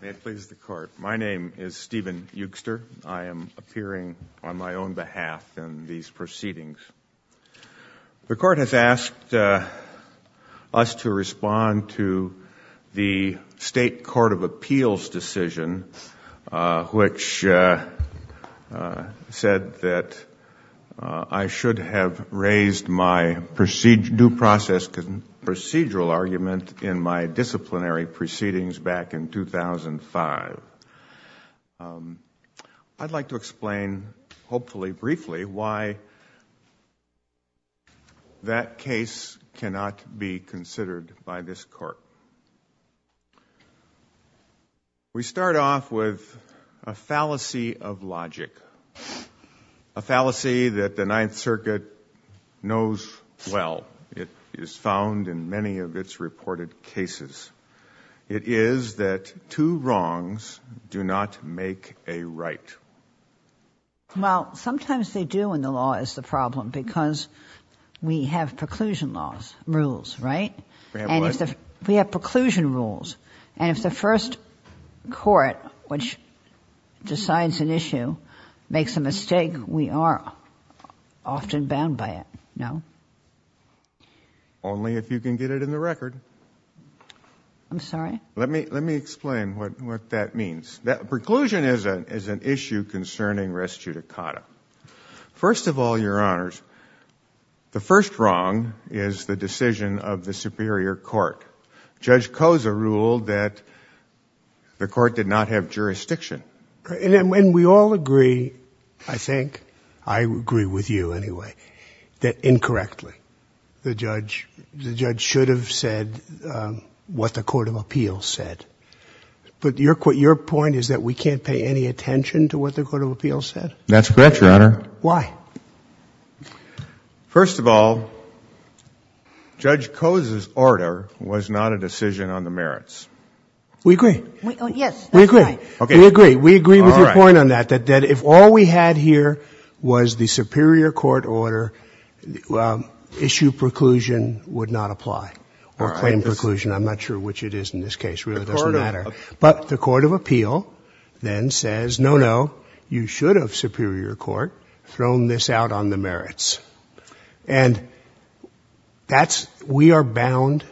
May it please the Court. My name is Stephen Eugster. I am appearing on my own behalf in these proceedings. The Court has asked us to respond to the State Court of Appeals decision which said that I should have raised my due process and procedural argument in my disciplinary proceedings back in 2005. I'd like to explain, hopefully briefly, why that case cannot be considered by this Court. We start off with a fallacy of logic, a fallacy that the Ninth It is that two wrongs do not make a right. Well, sometimes they do in the law is the problem because we have preclusion laws, rules, right? We have preclusion rules and if the first court which decides an issue makes a mistake, we are often bound by it, no? Only if you can get it in the record. I'm sorry? Let me explain what that means. Preclusion is an issue concerning res judicata. First of all, Your Honors, the first wrong is the decision of the superior court. Judge Cosa ruled that the court did not have jurisdiction. And we all agree, I think, I agree with you anyway, that incorrectly the judge should have said what the Court of Appeals said. But your point is that we can't pay any attention to what the Court of Appeals said? That's correct, Your Honor. Why? First of all, Judge We agree with your point on that, that if all we had here was the superior court order, issue preclusion would not apply or claim preclusion. I'm not sure which it is in this case. It really doesn't matter. But the Court of Appeal then says, no, no, you should have, superior court, thrown this out on the merits. And that's, we are bound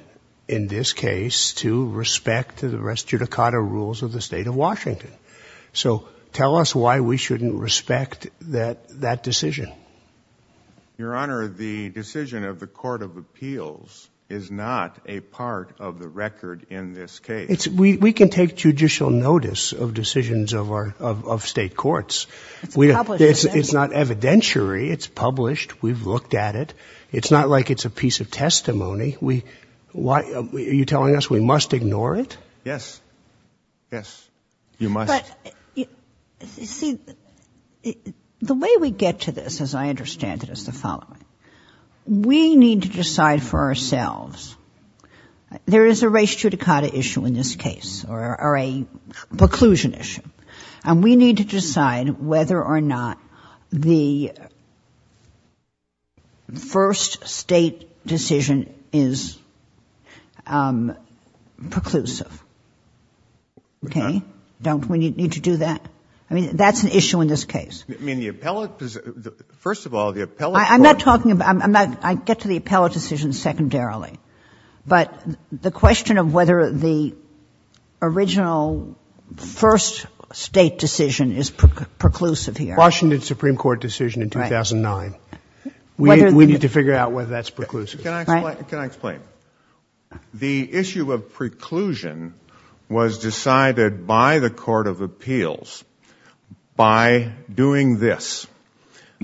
in this case to respect the res judicata rules of the state of Washington. So tell us why we shouldn't respect that decision. Your Honor, the decision of the Court of Appeals is not a part of the record in this case. We can take judicial notice of decisions of our, of state courts. It's published. It's not evidentiary. It's published. We've looked at it. It's not like it's a piece of testimony. We, why, are you telling us we must ignore it? Yes. Yes. You must. But, you see, the way we get to this, as I understand it, is the following. We need to decide for ourselves. There is a res judicata issue in this case or a preclusion issue. And we need to decide whether or not the first State decision is preclusive. Okay? Don't we need to do that? I mean, that's an issue in this case. I mean, the appellate, first of all, the appellate court I'm not talking about, I'm not, I get to the appellate decision secondarily. But the original first State decision is preclusive here. Washington Supreme Court decision in 2009. We need to figure out whether that's preclusive. Can I explain? The issue of preclusion was decided by the Court of Appeals by doing this.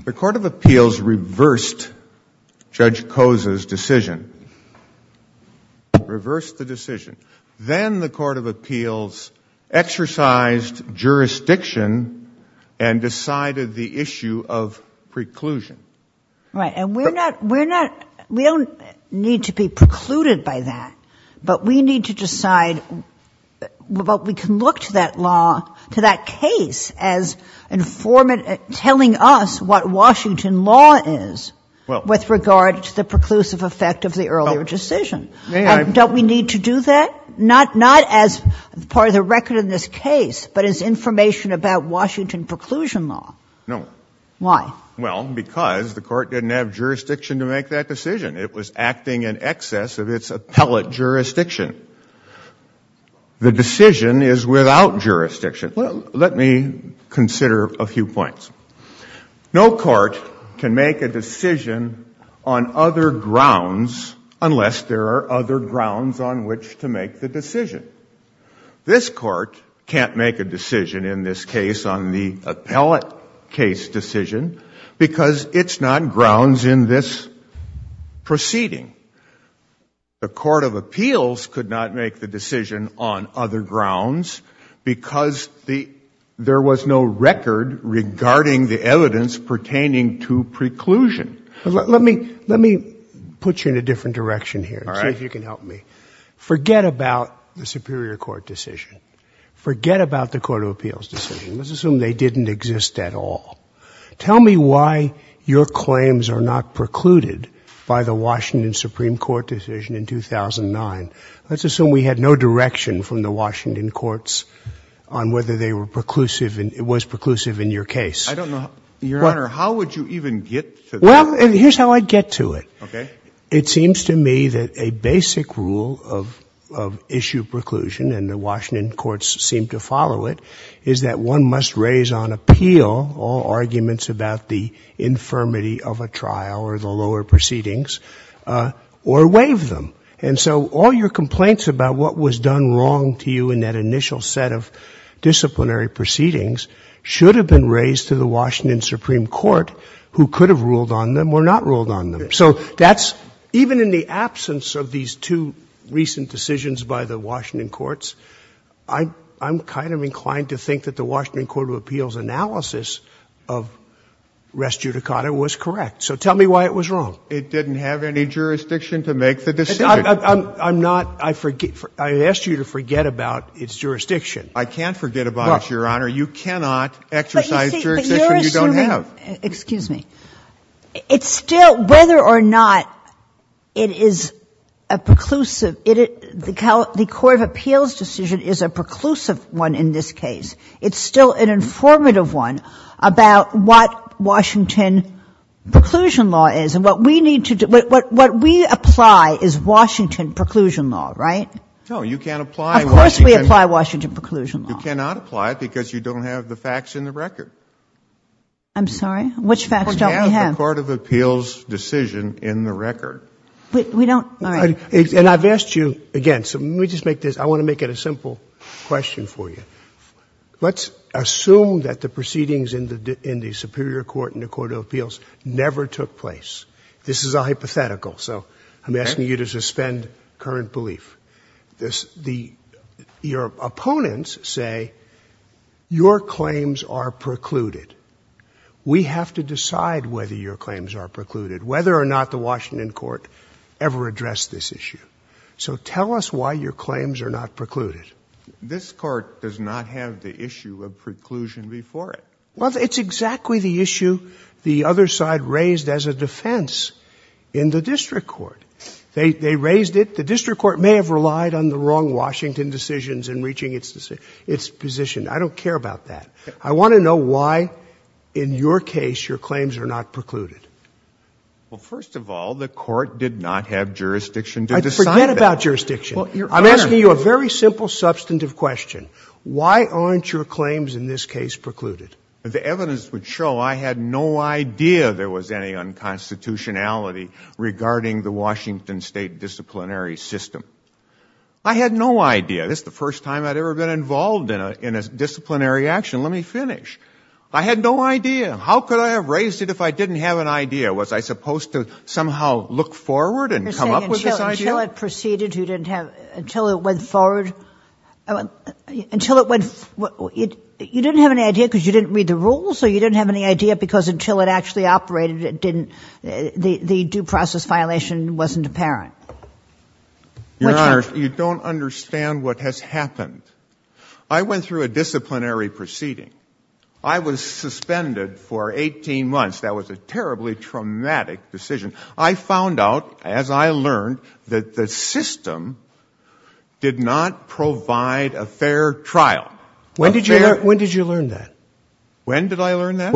The Court of Appeals reversed Judge Koza's decision. Reversed the decision. Then the Court of Appeals exercised jurisdiction and decided the issue of preclusion. Right. And we're not, we're not, we don't need to be precluded by that. But we need to decide, but we can look to that law, to that case as informing, telling us what Washington law is with regard to the preclusive effect of the earlier decision. May I? Don't we need to do that? Not as part of the record in this case, but as information about Washington preclusion law. No. Why? Well, because the Court didn't have jurisdiction to make that decision. It was acting in excess of few points. No court can make a decision on other grounds unless there are other grounds on which to make the decision. This court can't make a decision in this case on the appellate case decision because it's not grounds in this proceeding. The Court of Appeals could not make the decision on other grounds because the, there was no record regarding the evidence pertaining to preclusion. Let me, let me put you in a different direction here. All right. See if you can help me. Forget about the Superior Court decision. Forget about the Court of Appeals decision. Let's assume they didn't exist at all. Tell me why your claims are not precluded by the Washington Supreme Court decision in 2009. Let's assume we had no direction from the Washington courts on whether they were preclusive in, was preclusive in your case. I don't know. Your Honor, how would you even get to that? Well, here's how I'd get to it. Okay. It seems to me that a basic rule of, of issue preclusion, and the Washington courts seem to follow it, is that one must raise on appeal all arguments about the infirmity of a trial or the lower proceedings or waive them. And so all your complaints about what was done wrong to you in that initial set of disciplinary proceedings should have been raised to the Washington Supreme Court who could have ruled on them or not ruled on them. So that's, even in the absence of these two recent decisions by the Washington courts, I, I'm kind of inclined to think that the Washington Court of Appeals analysis of res judicata was correct. So tell me why it was wrong. It didn't have any jurisdiction to make the decision. I'm, I'm not, I forget, I asked you to forget about its jurisdiction. I can't forget about it, Your Honor. You cannot exercise jurisdiction you don't have. But you see, but you're assuming, excuse me, it's still, whether or not it is a preclusive, it, the court of appeals decision is a preclusive one in this case. It's still an informative one about what Washington preclusion law is and what we need to, what, what we apply is Washington preclusion law, right? No, you can't apply Washington. Of course we apply Washington preclusion law. You cannot apply it because you don't have the facts in the record. I'm sorry? Which facts don't we have? You don't have the court of appeals decision in the record. We, we don't, all right. And I've asked you again, so let me just make this, I want to make it a simple question for you. Let's assume that the proceedings in the, in the superior court in the court of appeals never took place. This is a hypothetical, so I'm asking you to suspend current belief. This, the, your opponents say your claims are precluded. We have to decide whether your claims are precluded, whether or not the Washington court ever addressed this issue. So tell us why your claims are not precluded. This court does not have the issue of preclusion before it. Well, it's exactly the issue the other side raised as a defense in the district court. They, they raised it. The district court may have relied on the wrong Washington decisions in reaching its decision, its position. I don't care about that. I want to know why in your case your claims are not precluded. Well, first of all, the court did not have jurisdiction to decide that. Forget about jurisdiction. I'm asking you a very simple, substantive question. Why aren't your claims in this case precluded? The evidence would show I had no idea there was any unconstitutionality regarding the Washington state disciplinary system. I had no idea. This is the first time I'd ever been involved in a, in a disciplinary action. Let me finish. I had no idea. How could I have raised it if I didn't have an idea? Was I supposed to somehow look forward and come up with this idea? You're saying until it proceeded, you didn't have, until it went forward, until it went, you didn't have any idea because you didn't read the rules, or you didn't have any idea because until it actually operated, it didn't, the due process violation wasn't apparent. Your Honor, you don't understand what has happened. I went through a disciplinary proceeding. I was suspended for 18 months. That was a terribly traumatic decision. I found out, as I learned, that the system did not provide a fair trial. When did you learn that? When did I learn that?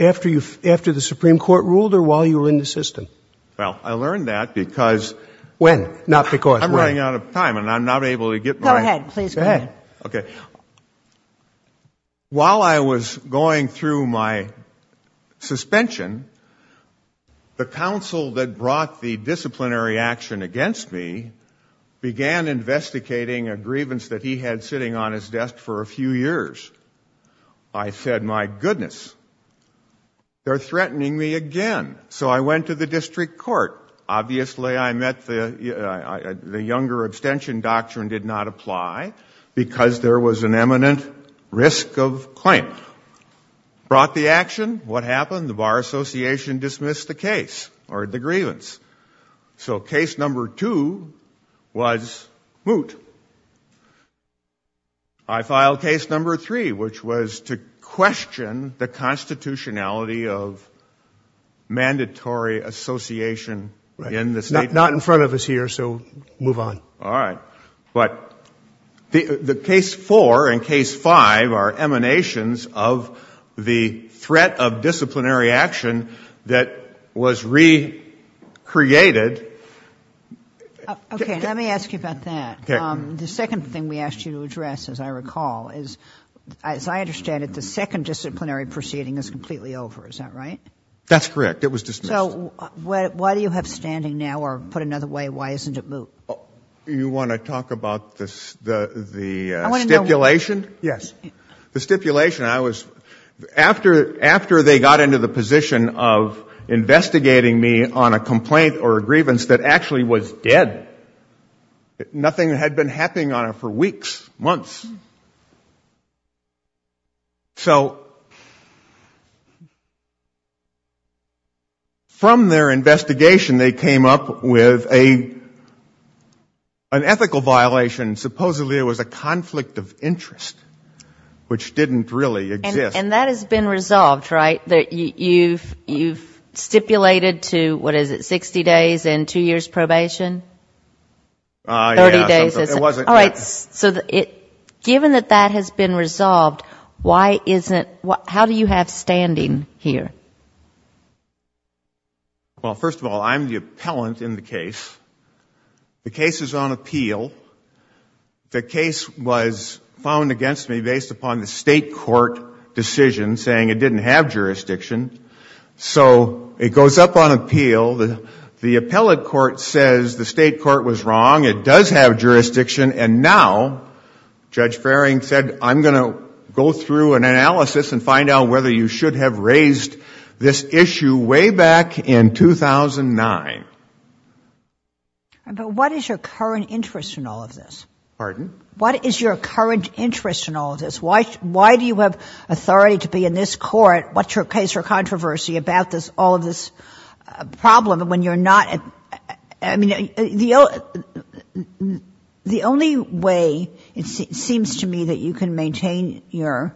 After you, after the Supreme Court ruled or while you were in the system? Well, I learned that because. When? Not because. I'm running out of time and I'm not able to get my. Go ahead. Please go ahead. Okay. While I was going through my suspension, the counsel that brought the disciplinary action against me began investigating a grievance that he had sitting on his desk for a few years. I said, my goodness, they're threatening me again. So I went to the district court. Obviously, I met the younger abstention doctrine did not apply because there was an eminent risk of claim. Brought the action, what happened? The Bar Association dismissed the case or the grievance. So case number two was moot. I filed case number three, which was to question the constitutionality of mandatory association in the state. Not in front of us here, so move on. All right. But the case four and case five are emanations of the threat of disciplinary action that was recreated. Okay, let me ask you about that. The second thing we asked you to address, as I recall, is as I understand it the second disciplinary proceeding is completely over. Is that right? That's correct. It was dismissed. So why do you have standing now, or put another way, why isn't it moot? You want to talk about the stipulation? Yes. The stipulation, after they got into the position of investigating me on a complaint or a grievance that actually was dead. Nothing had been happening on it for weeks, months. So from their investigation they came up with an ethical violation, supposedly it was a conflict of interest, which didn't really exist. And that has been resolved, right? You've stipulated to, what is it, 60 days and two years probation? Yeah. 30 days. It wasn't that. Given that that has been resolved, how do you have standing here? Well, first of all, I'm the appellant in the case. The case is on appeal. The case was found against me based upon the state court decision saying it didn't have jurisdiction. So it goes up on appeal. The appellate court says the state court was wrong, it does have jurisdiction, and now Judge Farring said I'm going to go through an analysis and find out whether you should have raised this issue way back in 2009. But what is your current interest in all of this? Pardon? What is your current interest in all of this? Why do you have authority to be in this court, what's your case or controversy about all of this problem when you're not? I mean, the only way it seems to me that you can maintain your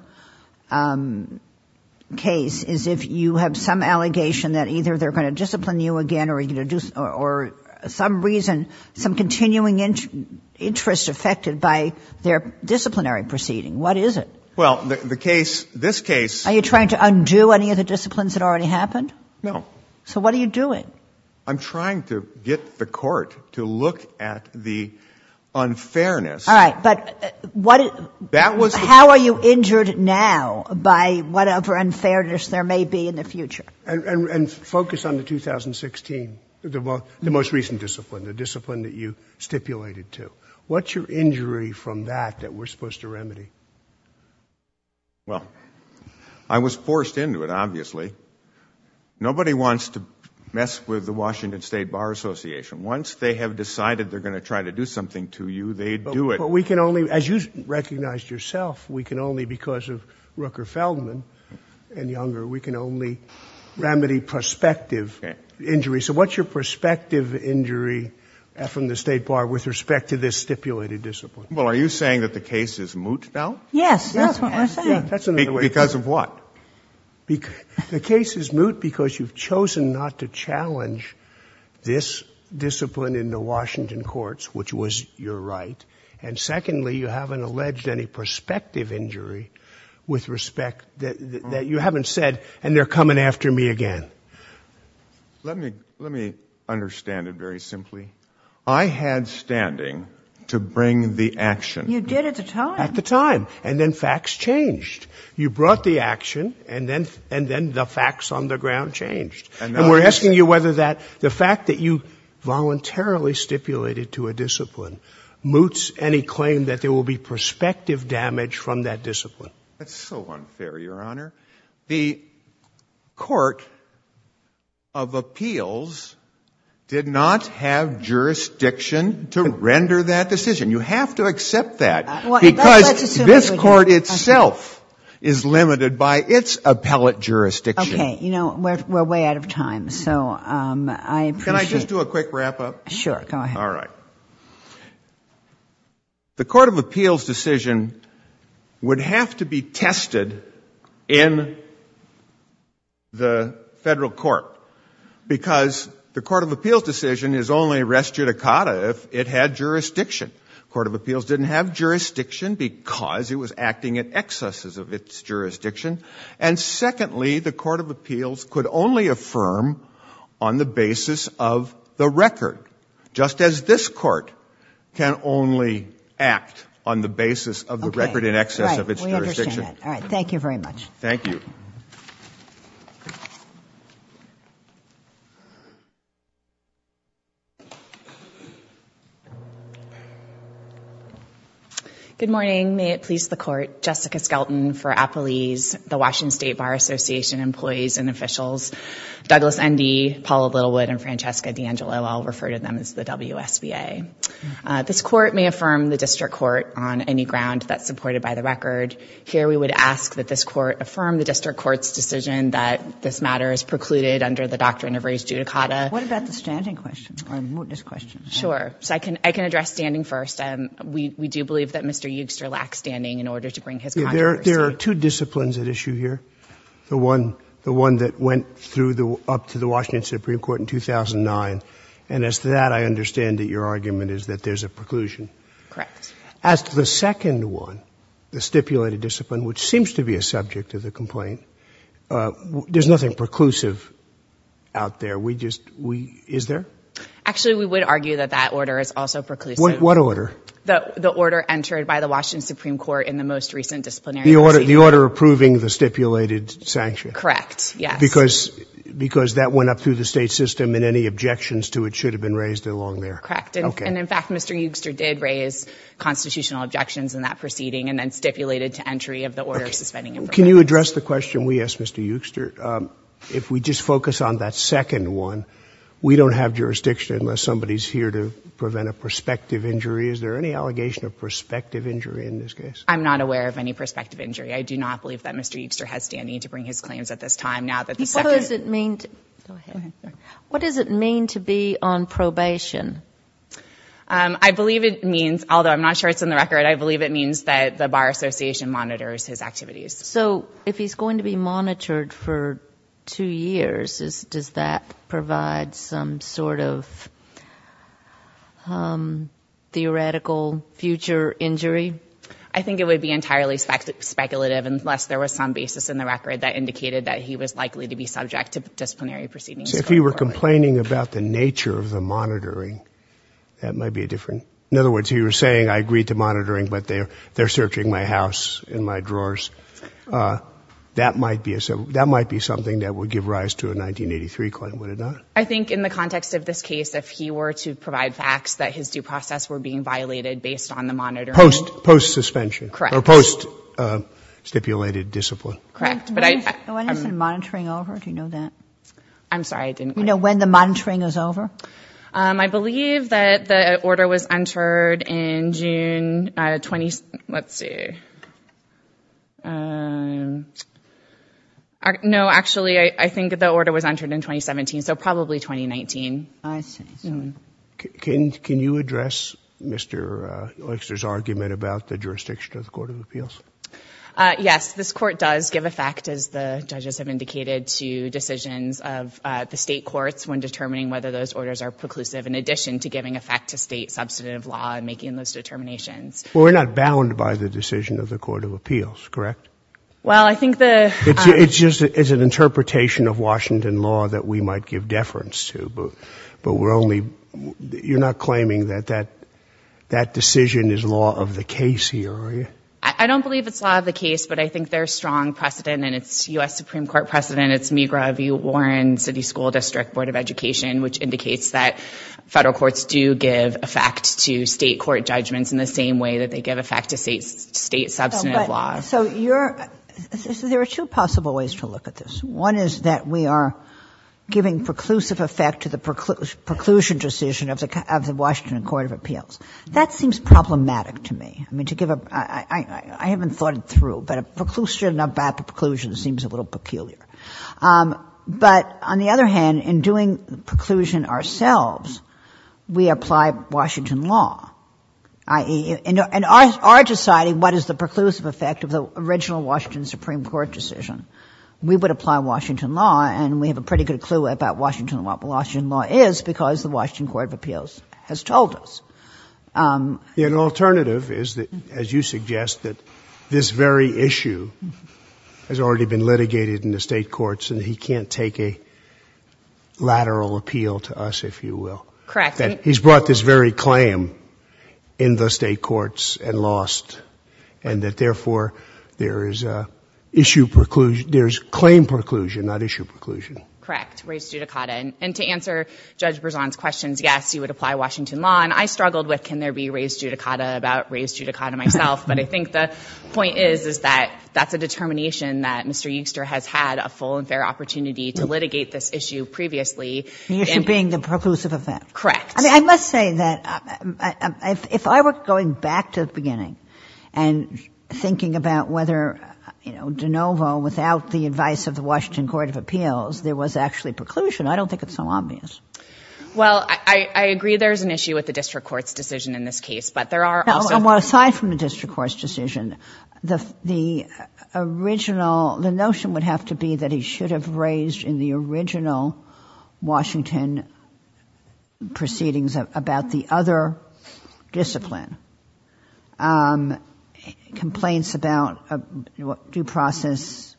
case is if you have some allegation that either they're going to discipline you again or some reason, some continuing interest affected by their disciplinary proceeding. What is it? Well, the case, this case. Are you trying to undo any of the disciplines that already happened? No. So what are you doing? I'm trying to get the court to look at the unfairness. All right. But how are you injured now by whatever unfairness there may be in the future? And focus on the 2016, the most recent discipline, the discipline that you stipulated to. What's your injury from that that we're supposed to remedy? Well, I was forced into it, obviously. Nobody wants to mess with the Washington State Bar Association. Once they have decided they're going to try to do something to you, they do it. But we can only, as you recognized yourself, we can only because of Rooker Feldman and Younger, we can only remedy prospective injuries. So what's your prospective injury from the state bar with respect to this stipulated discipline? Well, are you saying that the case is moot now? Yes, that's what I'm saying. Because of what? The case is moot because you've chosen not to challenge this discipline in the Washington courts, which was your right. And secondly, you haven't alleged any prospective injury with respect that you haven't said, and they're coming after me again. Let me understand it very simply. I had standing to bring the action. You did at the time. At the time. And then facts changed. You brought the action, and then the facts on the ground changed. And we're asking you whether the fact that you voluntarily stipulated to a discipline moots any claim that there will be prospective damage from that discipline. That's so unfair, Your Honor. The court of appeals did not have jurisdiction to render that decision. You have to accept that. Because this court itself is limited by its appellate jurisdiction. Okay. You know, we're way out of time, so I appreciate it. Can I just do a quick wrap-up? Sure. Go ahead. All right. The court of appeals decision would have to be tested in the Federal Court, because the court of appeals decision is only res judicata if it had jurisdiction. The court of appeals didn't have jurisdiction because it was acting in excess of its jurisdiction. And secondly, the court of appeals could only affirm on the basis of the record, just as this court can only act on the basis of the record in excess of its jurisdiction. All right. We understand that. Thank you very much. Thank you. Thank you. Good morning. May it please the court. Jessica Skelton for Appelese, the Washington State Bar Association employees and officials. Douglas Endy, Paula Littlewood, and Francesca D'Angelo, I'll refer to them as the WSBA. This court may affirm the district court on any ground that's supported by the record. Here we would ask that this court affirm the district court's decision that this matter is precluded under the doctrine of res judicata. What about the standing question, or this question? Sure. So I can address standing first. We do believe that Mr. Yoogster lacks standing in order to bring his controversy. There are two disciplines at issue here, the one that went up to the Washington Supreme Court in 2009, and as to that, I understand that your argument is that there's a preclusion. Correct. As to the second one, the stipulated discipline, which seems to be a subject of the complaint, there's nothing preclusive out there. We just, we, is there? Actually, we would argue that that order is also preclusive. What order? The order entered by the Washington Supreme Court in the most recent disciplinary proceeding. The order approving the stipulated sanction? Correct. Yes. Because that went up through the state system, and any objections to it should have been raised along there. Correct. Okay. And in fact, Mr. Yoogster did raise constitutional objections in that proceeding, and then stipulated to entry of the order suspending it. Okay. Can you address the question we asked Mr. Yoogster? If we just focus on that second one, we don't have jurisdiction unless somebody's here to prevent a prospective injury. Is there any allegation of prospective injury in this case? I'm not aware of any prospective injury. I do not believe that Mr. Yoogster has standing to bring his claims at this time, now that the second. What does it mean to be on probation? I believe it means, although I'm not sure it's in the record, I believe it means that the Bar Association monitors his activities. So if he's going to be monitored for two years, does that provide some sort of theoretical future injury? I think it would be entirely speculative unless there was some basis in the record that indicated that he was likely to be subject to disciplinary proceedings. If he were complaining about the nature of the monitoring, that might be a different. In other words, he was saying, I agreed to monitoring, but they're searching my house and my drawers. That might be something that would give rise to a 1983 claim, would it not? I think in the context of this case, if he were to provide facts that his due process were being violated based on the monitoring. Post-suspension. Correct. Or post-stipulated discipline. Correct. When is the monitoring over? Do you know that? I'm sorry, I didn't quite hear. Do you know when the monitoring is over? I believe that the order was entered in June. Let's see. No, actually, I think the order was entered in 2017, so probably 2019. I see. Yes, this court does give effect, as the judges have indicated, to decisions of the State courts when determining whether those orders are preclusive in addition to giving effect to State substantive law and making those determinations. Well, we're not bound by the decision of the Court of Appeals, correct? Well, I think the — It's just an interpretation of Washington law that we might give deference to, but we're only — you're not claiming that that decision is law of the case here, are you? I don't believe it's law of the case, but I think there's strong precedent, and it's U.S. Supreme Court precedent. It's Meagher v. Warren City School District Board of Education, which indicates that federal courts do give effect to State court judgments in the same way that they give effect to State substantive law. So you're — so there are two possible ways to look at this. One is that we are giving preclusive effect to the preclusion decision of the Washington Court of Appeals. That seems problematic to me. I mean, to give a — I haven't thought it through, but a preclusion about the preclusion seems a little peculiar. But on the other hand, in doing preclusion ourselves, we apply Washington law, i.e. in our society, what is the preclusive effect of the original Washington Supreme Court decision? We would apply Washington law, and we have a pretty good clue about Washington law, but Washington law is because the Washington Court of Appeals has told us. An alternative is, as you suggest, that this very issue has already been litigated in the State courts, and he can't take a lateral appeal to us, if you will. Correct. He's brought this very claim in the State courts and lost, and that therefore there is issue preclusion — there is claim preclusion, not issue preclusion. Correct. Raised judicata. And to answer Judge Berzon's questions, yes, you would apply Washington law. And I struggled with can there be raised judicata about raised judicata myself, but I think the point is, is that that's a determination that Mr. Euster has had a full and fair opportunity to litigate this issue previously. The issue being the preclusive effect. Correct. I mean, I must say that if I were going back to the beginning and thinking about whether, you know, de novo, without the advice of the Washington Court of Appeals, there was actually preclusion, I don't think it's so obvious. Well, I agree there's an issue with the district court's decision in this case, but there are also — Well, aside from the district court's decision, the original — the notion would have to be that he should have raised in the original Washington proceedings about the other discipline, complaints about due process,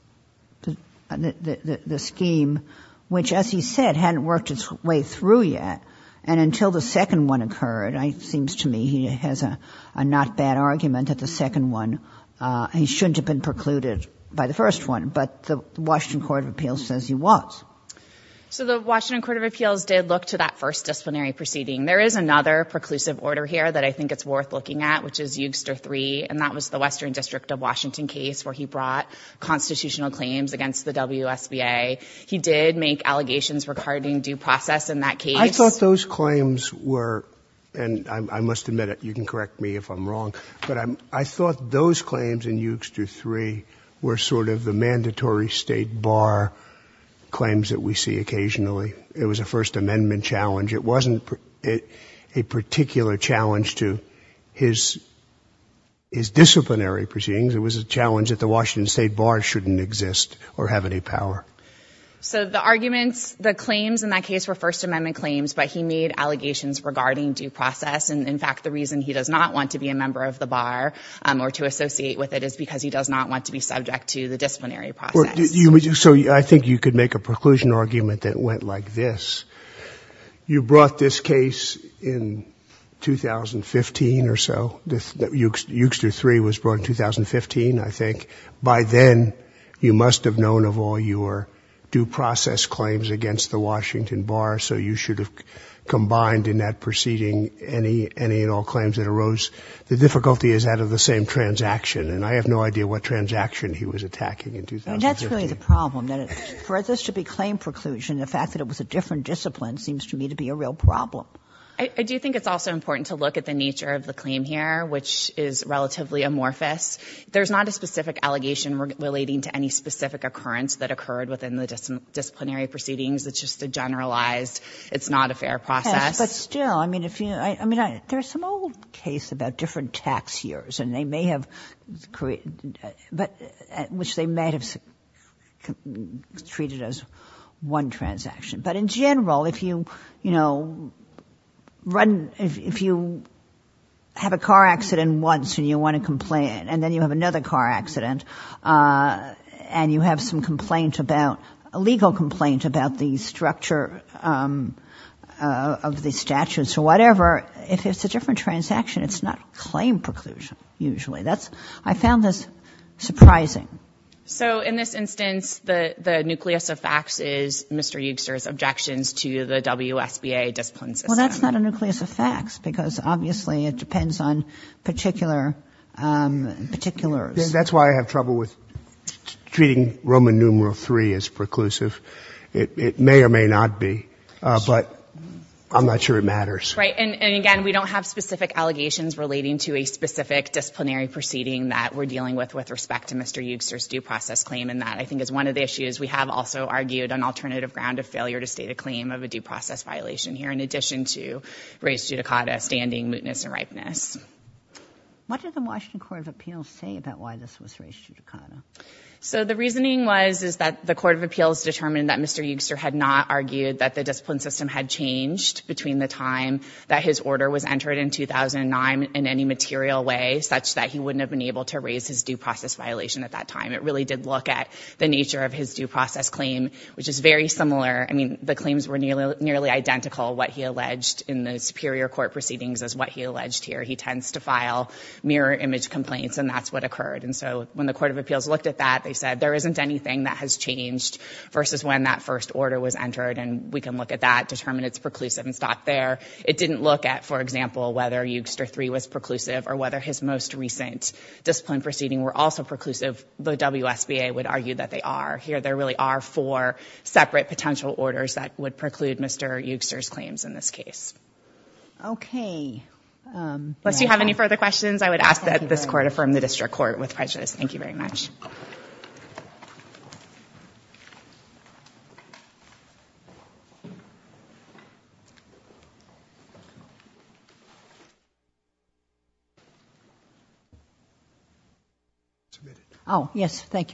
the scheme, which, as he said, hadn't worked its way through yet. And until the second one occurred, it seems to me he has a not bad argument that the second one, he shouldn't have been precluded by the first one. But the Washington Court of Appeals says he was. So the Washington Court of Appeals did look to that first disciplinary proceeding. There is another preclusive order here that I think it's worth looking at, which is Euster 3, and that was the Western District of Washington case where he brought constitutional claims against the WSBA. He did make allegations regarding due process in that case. I thought those claims were — and I must admit it, you can correct me if I'm wrong, but I thought those claims in Euster 3 were sort of the mandatory state bar claims that we see occasionally. It was a First Amendment challenge. It wasn't a particular challenge to his disciplinary proceedings. It was a challenge that the Washington state bar shouldn't exist or have any power. So the arguments, the claims in that case were First Amendment claims, but he made allegations regarding due process. And, in fact, the reason he does not want to be a member of the bar or to associate with it is because he does not want to be subject to the disciplinary process. So I think you could make a preclusion argument that went like this. You brought this case in 2015 or so. Euster 3 was brought in 2015, I think. By then, you must have known of all your due process claims against the Washington bar, so you should have combined in that proceeding any and all claims that arose. The difficulty is that of the same transaction, and I have no idea what transaction he was attacking in 2015. But that's really the problem, that for this to be claim preclusion, the fact that it was a different discipline seems to me to be a real problem. I do think it's also important to look at the nature of the claim here, which is relatively amorphous. There's not a specific allegation relating to any specific occurrence that occurred within the disciplinary proceedings. It's just a generalized, it's not a fair process. Yes, but still, I mean, if you – I mean, there's some old case about different tax years, and they may have – which they may have treated as one transaction. But in general, if you, you know, run – if you have a car accident once and you want to complain, and then you have another car accident, and you have some complaint about – a legal complaint about the structure of the statutes or whatever, if it's a different transaction, it's not claim preclusion, usually. That's – I found this surprising. So in this instance, the nucleus of facts is Mr. Eugster's objections to the WSBA discipline system. Well, that's not a nucleus of facts, because obviously it depends on particular – particulars. That's why I have trouble with treating Roman numeral III as preclusive. It may or may not be, but I'm not sure it matters. Right, and again, we don't have specific allegations relating to a specific disciplinary proceeding that we're dealing with with respect to Mr. Eugster's due process claim, and that I think is one of the issues. We have also argued an alternative ground of failure to state a claim of a due process violation here in addition to res judicata, standing, mootness, and ripeness. What did the Washington Court of Appeals say about why this was res judicata? So the reasoning was is that the Court of Appeals determined that Mr. Eugster had not argued that the discipline system had changed between the time that his order was entered in 2009 in any material way such that he wouldn't have been able to raise his due process violation at that time. It really did look at the nature of his due process claim, which is very similar. I mean, the claims were nearly identical, what he alleged in the superior court proceedings as what he alleged here. He tends to file mirror image complaints, and that's what occurred. And so when the Court of Appeals looked at that, they said there isn't anything that has changed versus when that first order was entered. And we can look at that, determine it's preclusive, and stop there. It didn't look at, for example, whether Eugster III was preclusive or whether his most recent discipline proceeding were also preclusive, though WSBA would argue that they are. Here there really are four separate potential orders that would preclude Mr. Eugster's claims in this case. Okay. Unless you have any further questions, I would ask that this Court affirm the district court with prejudice. Thank you very much. Thank you.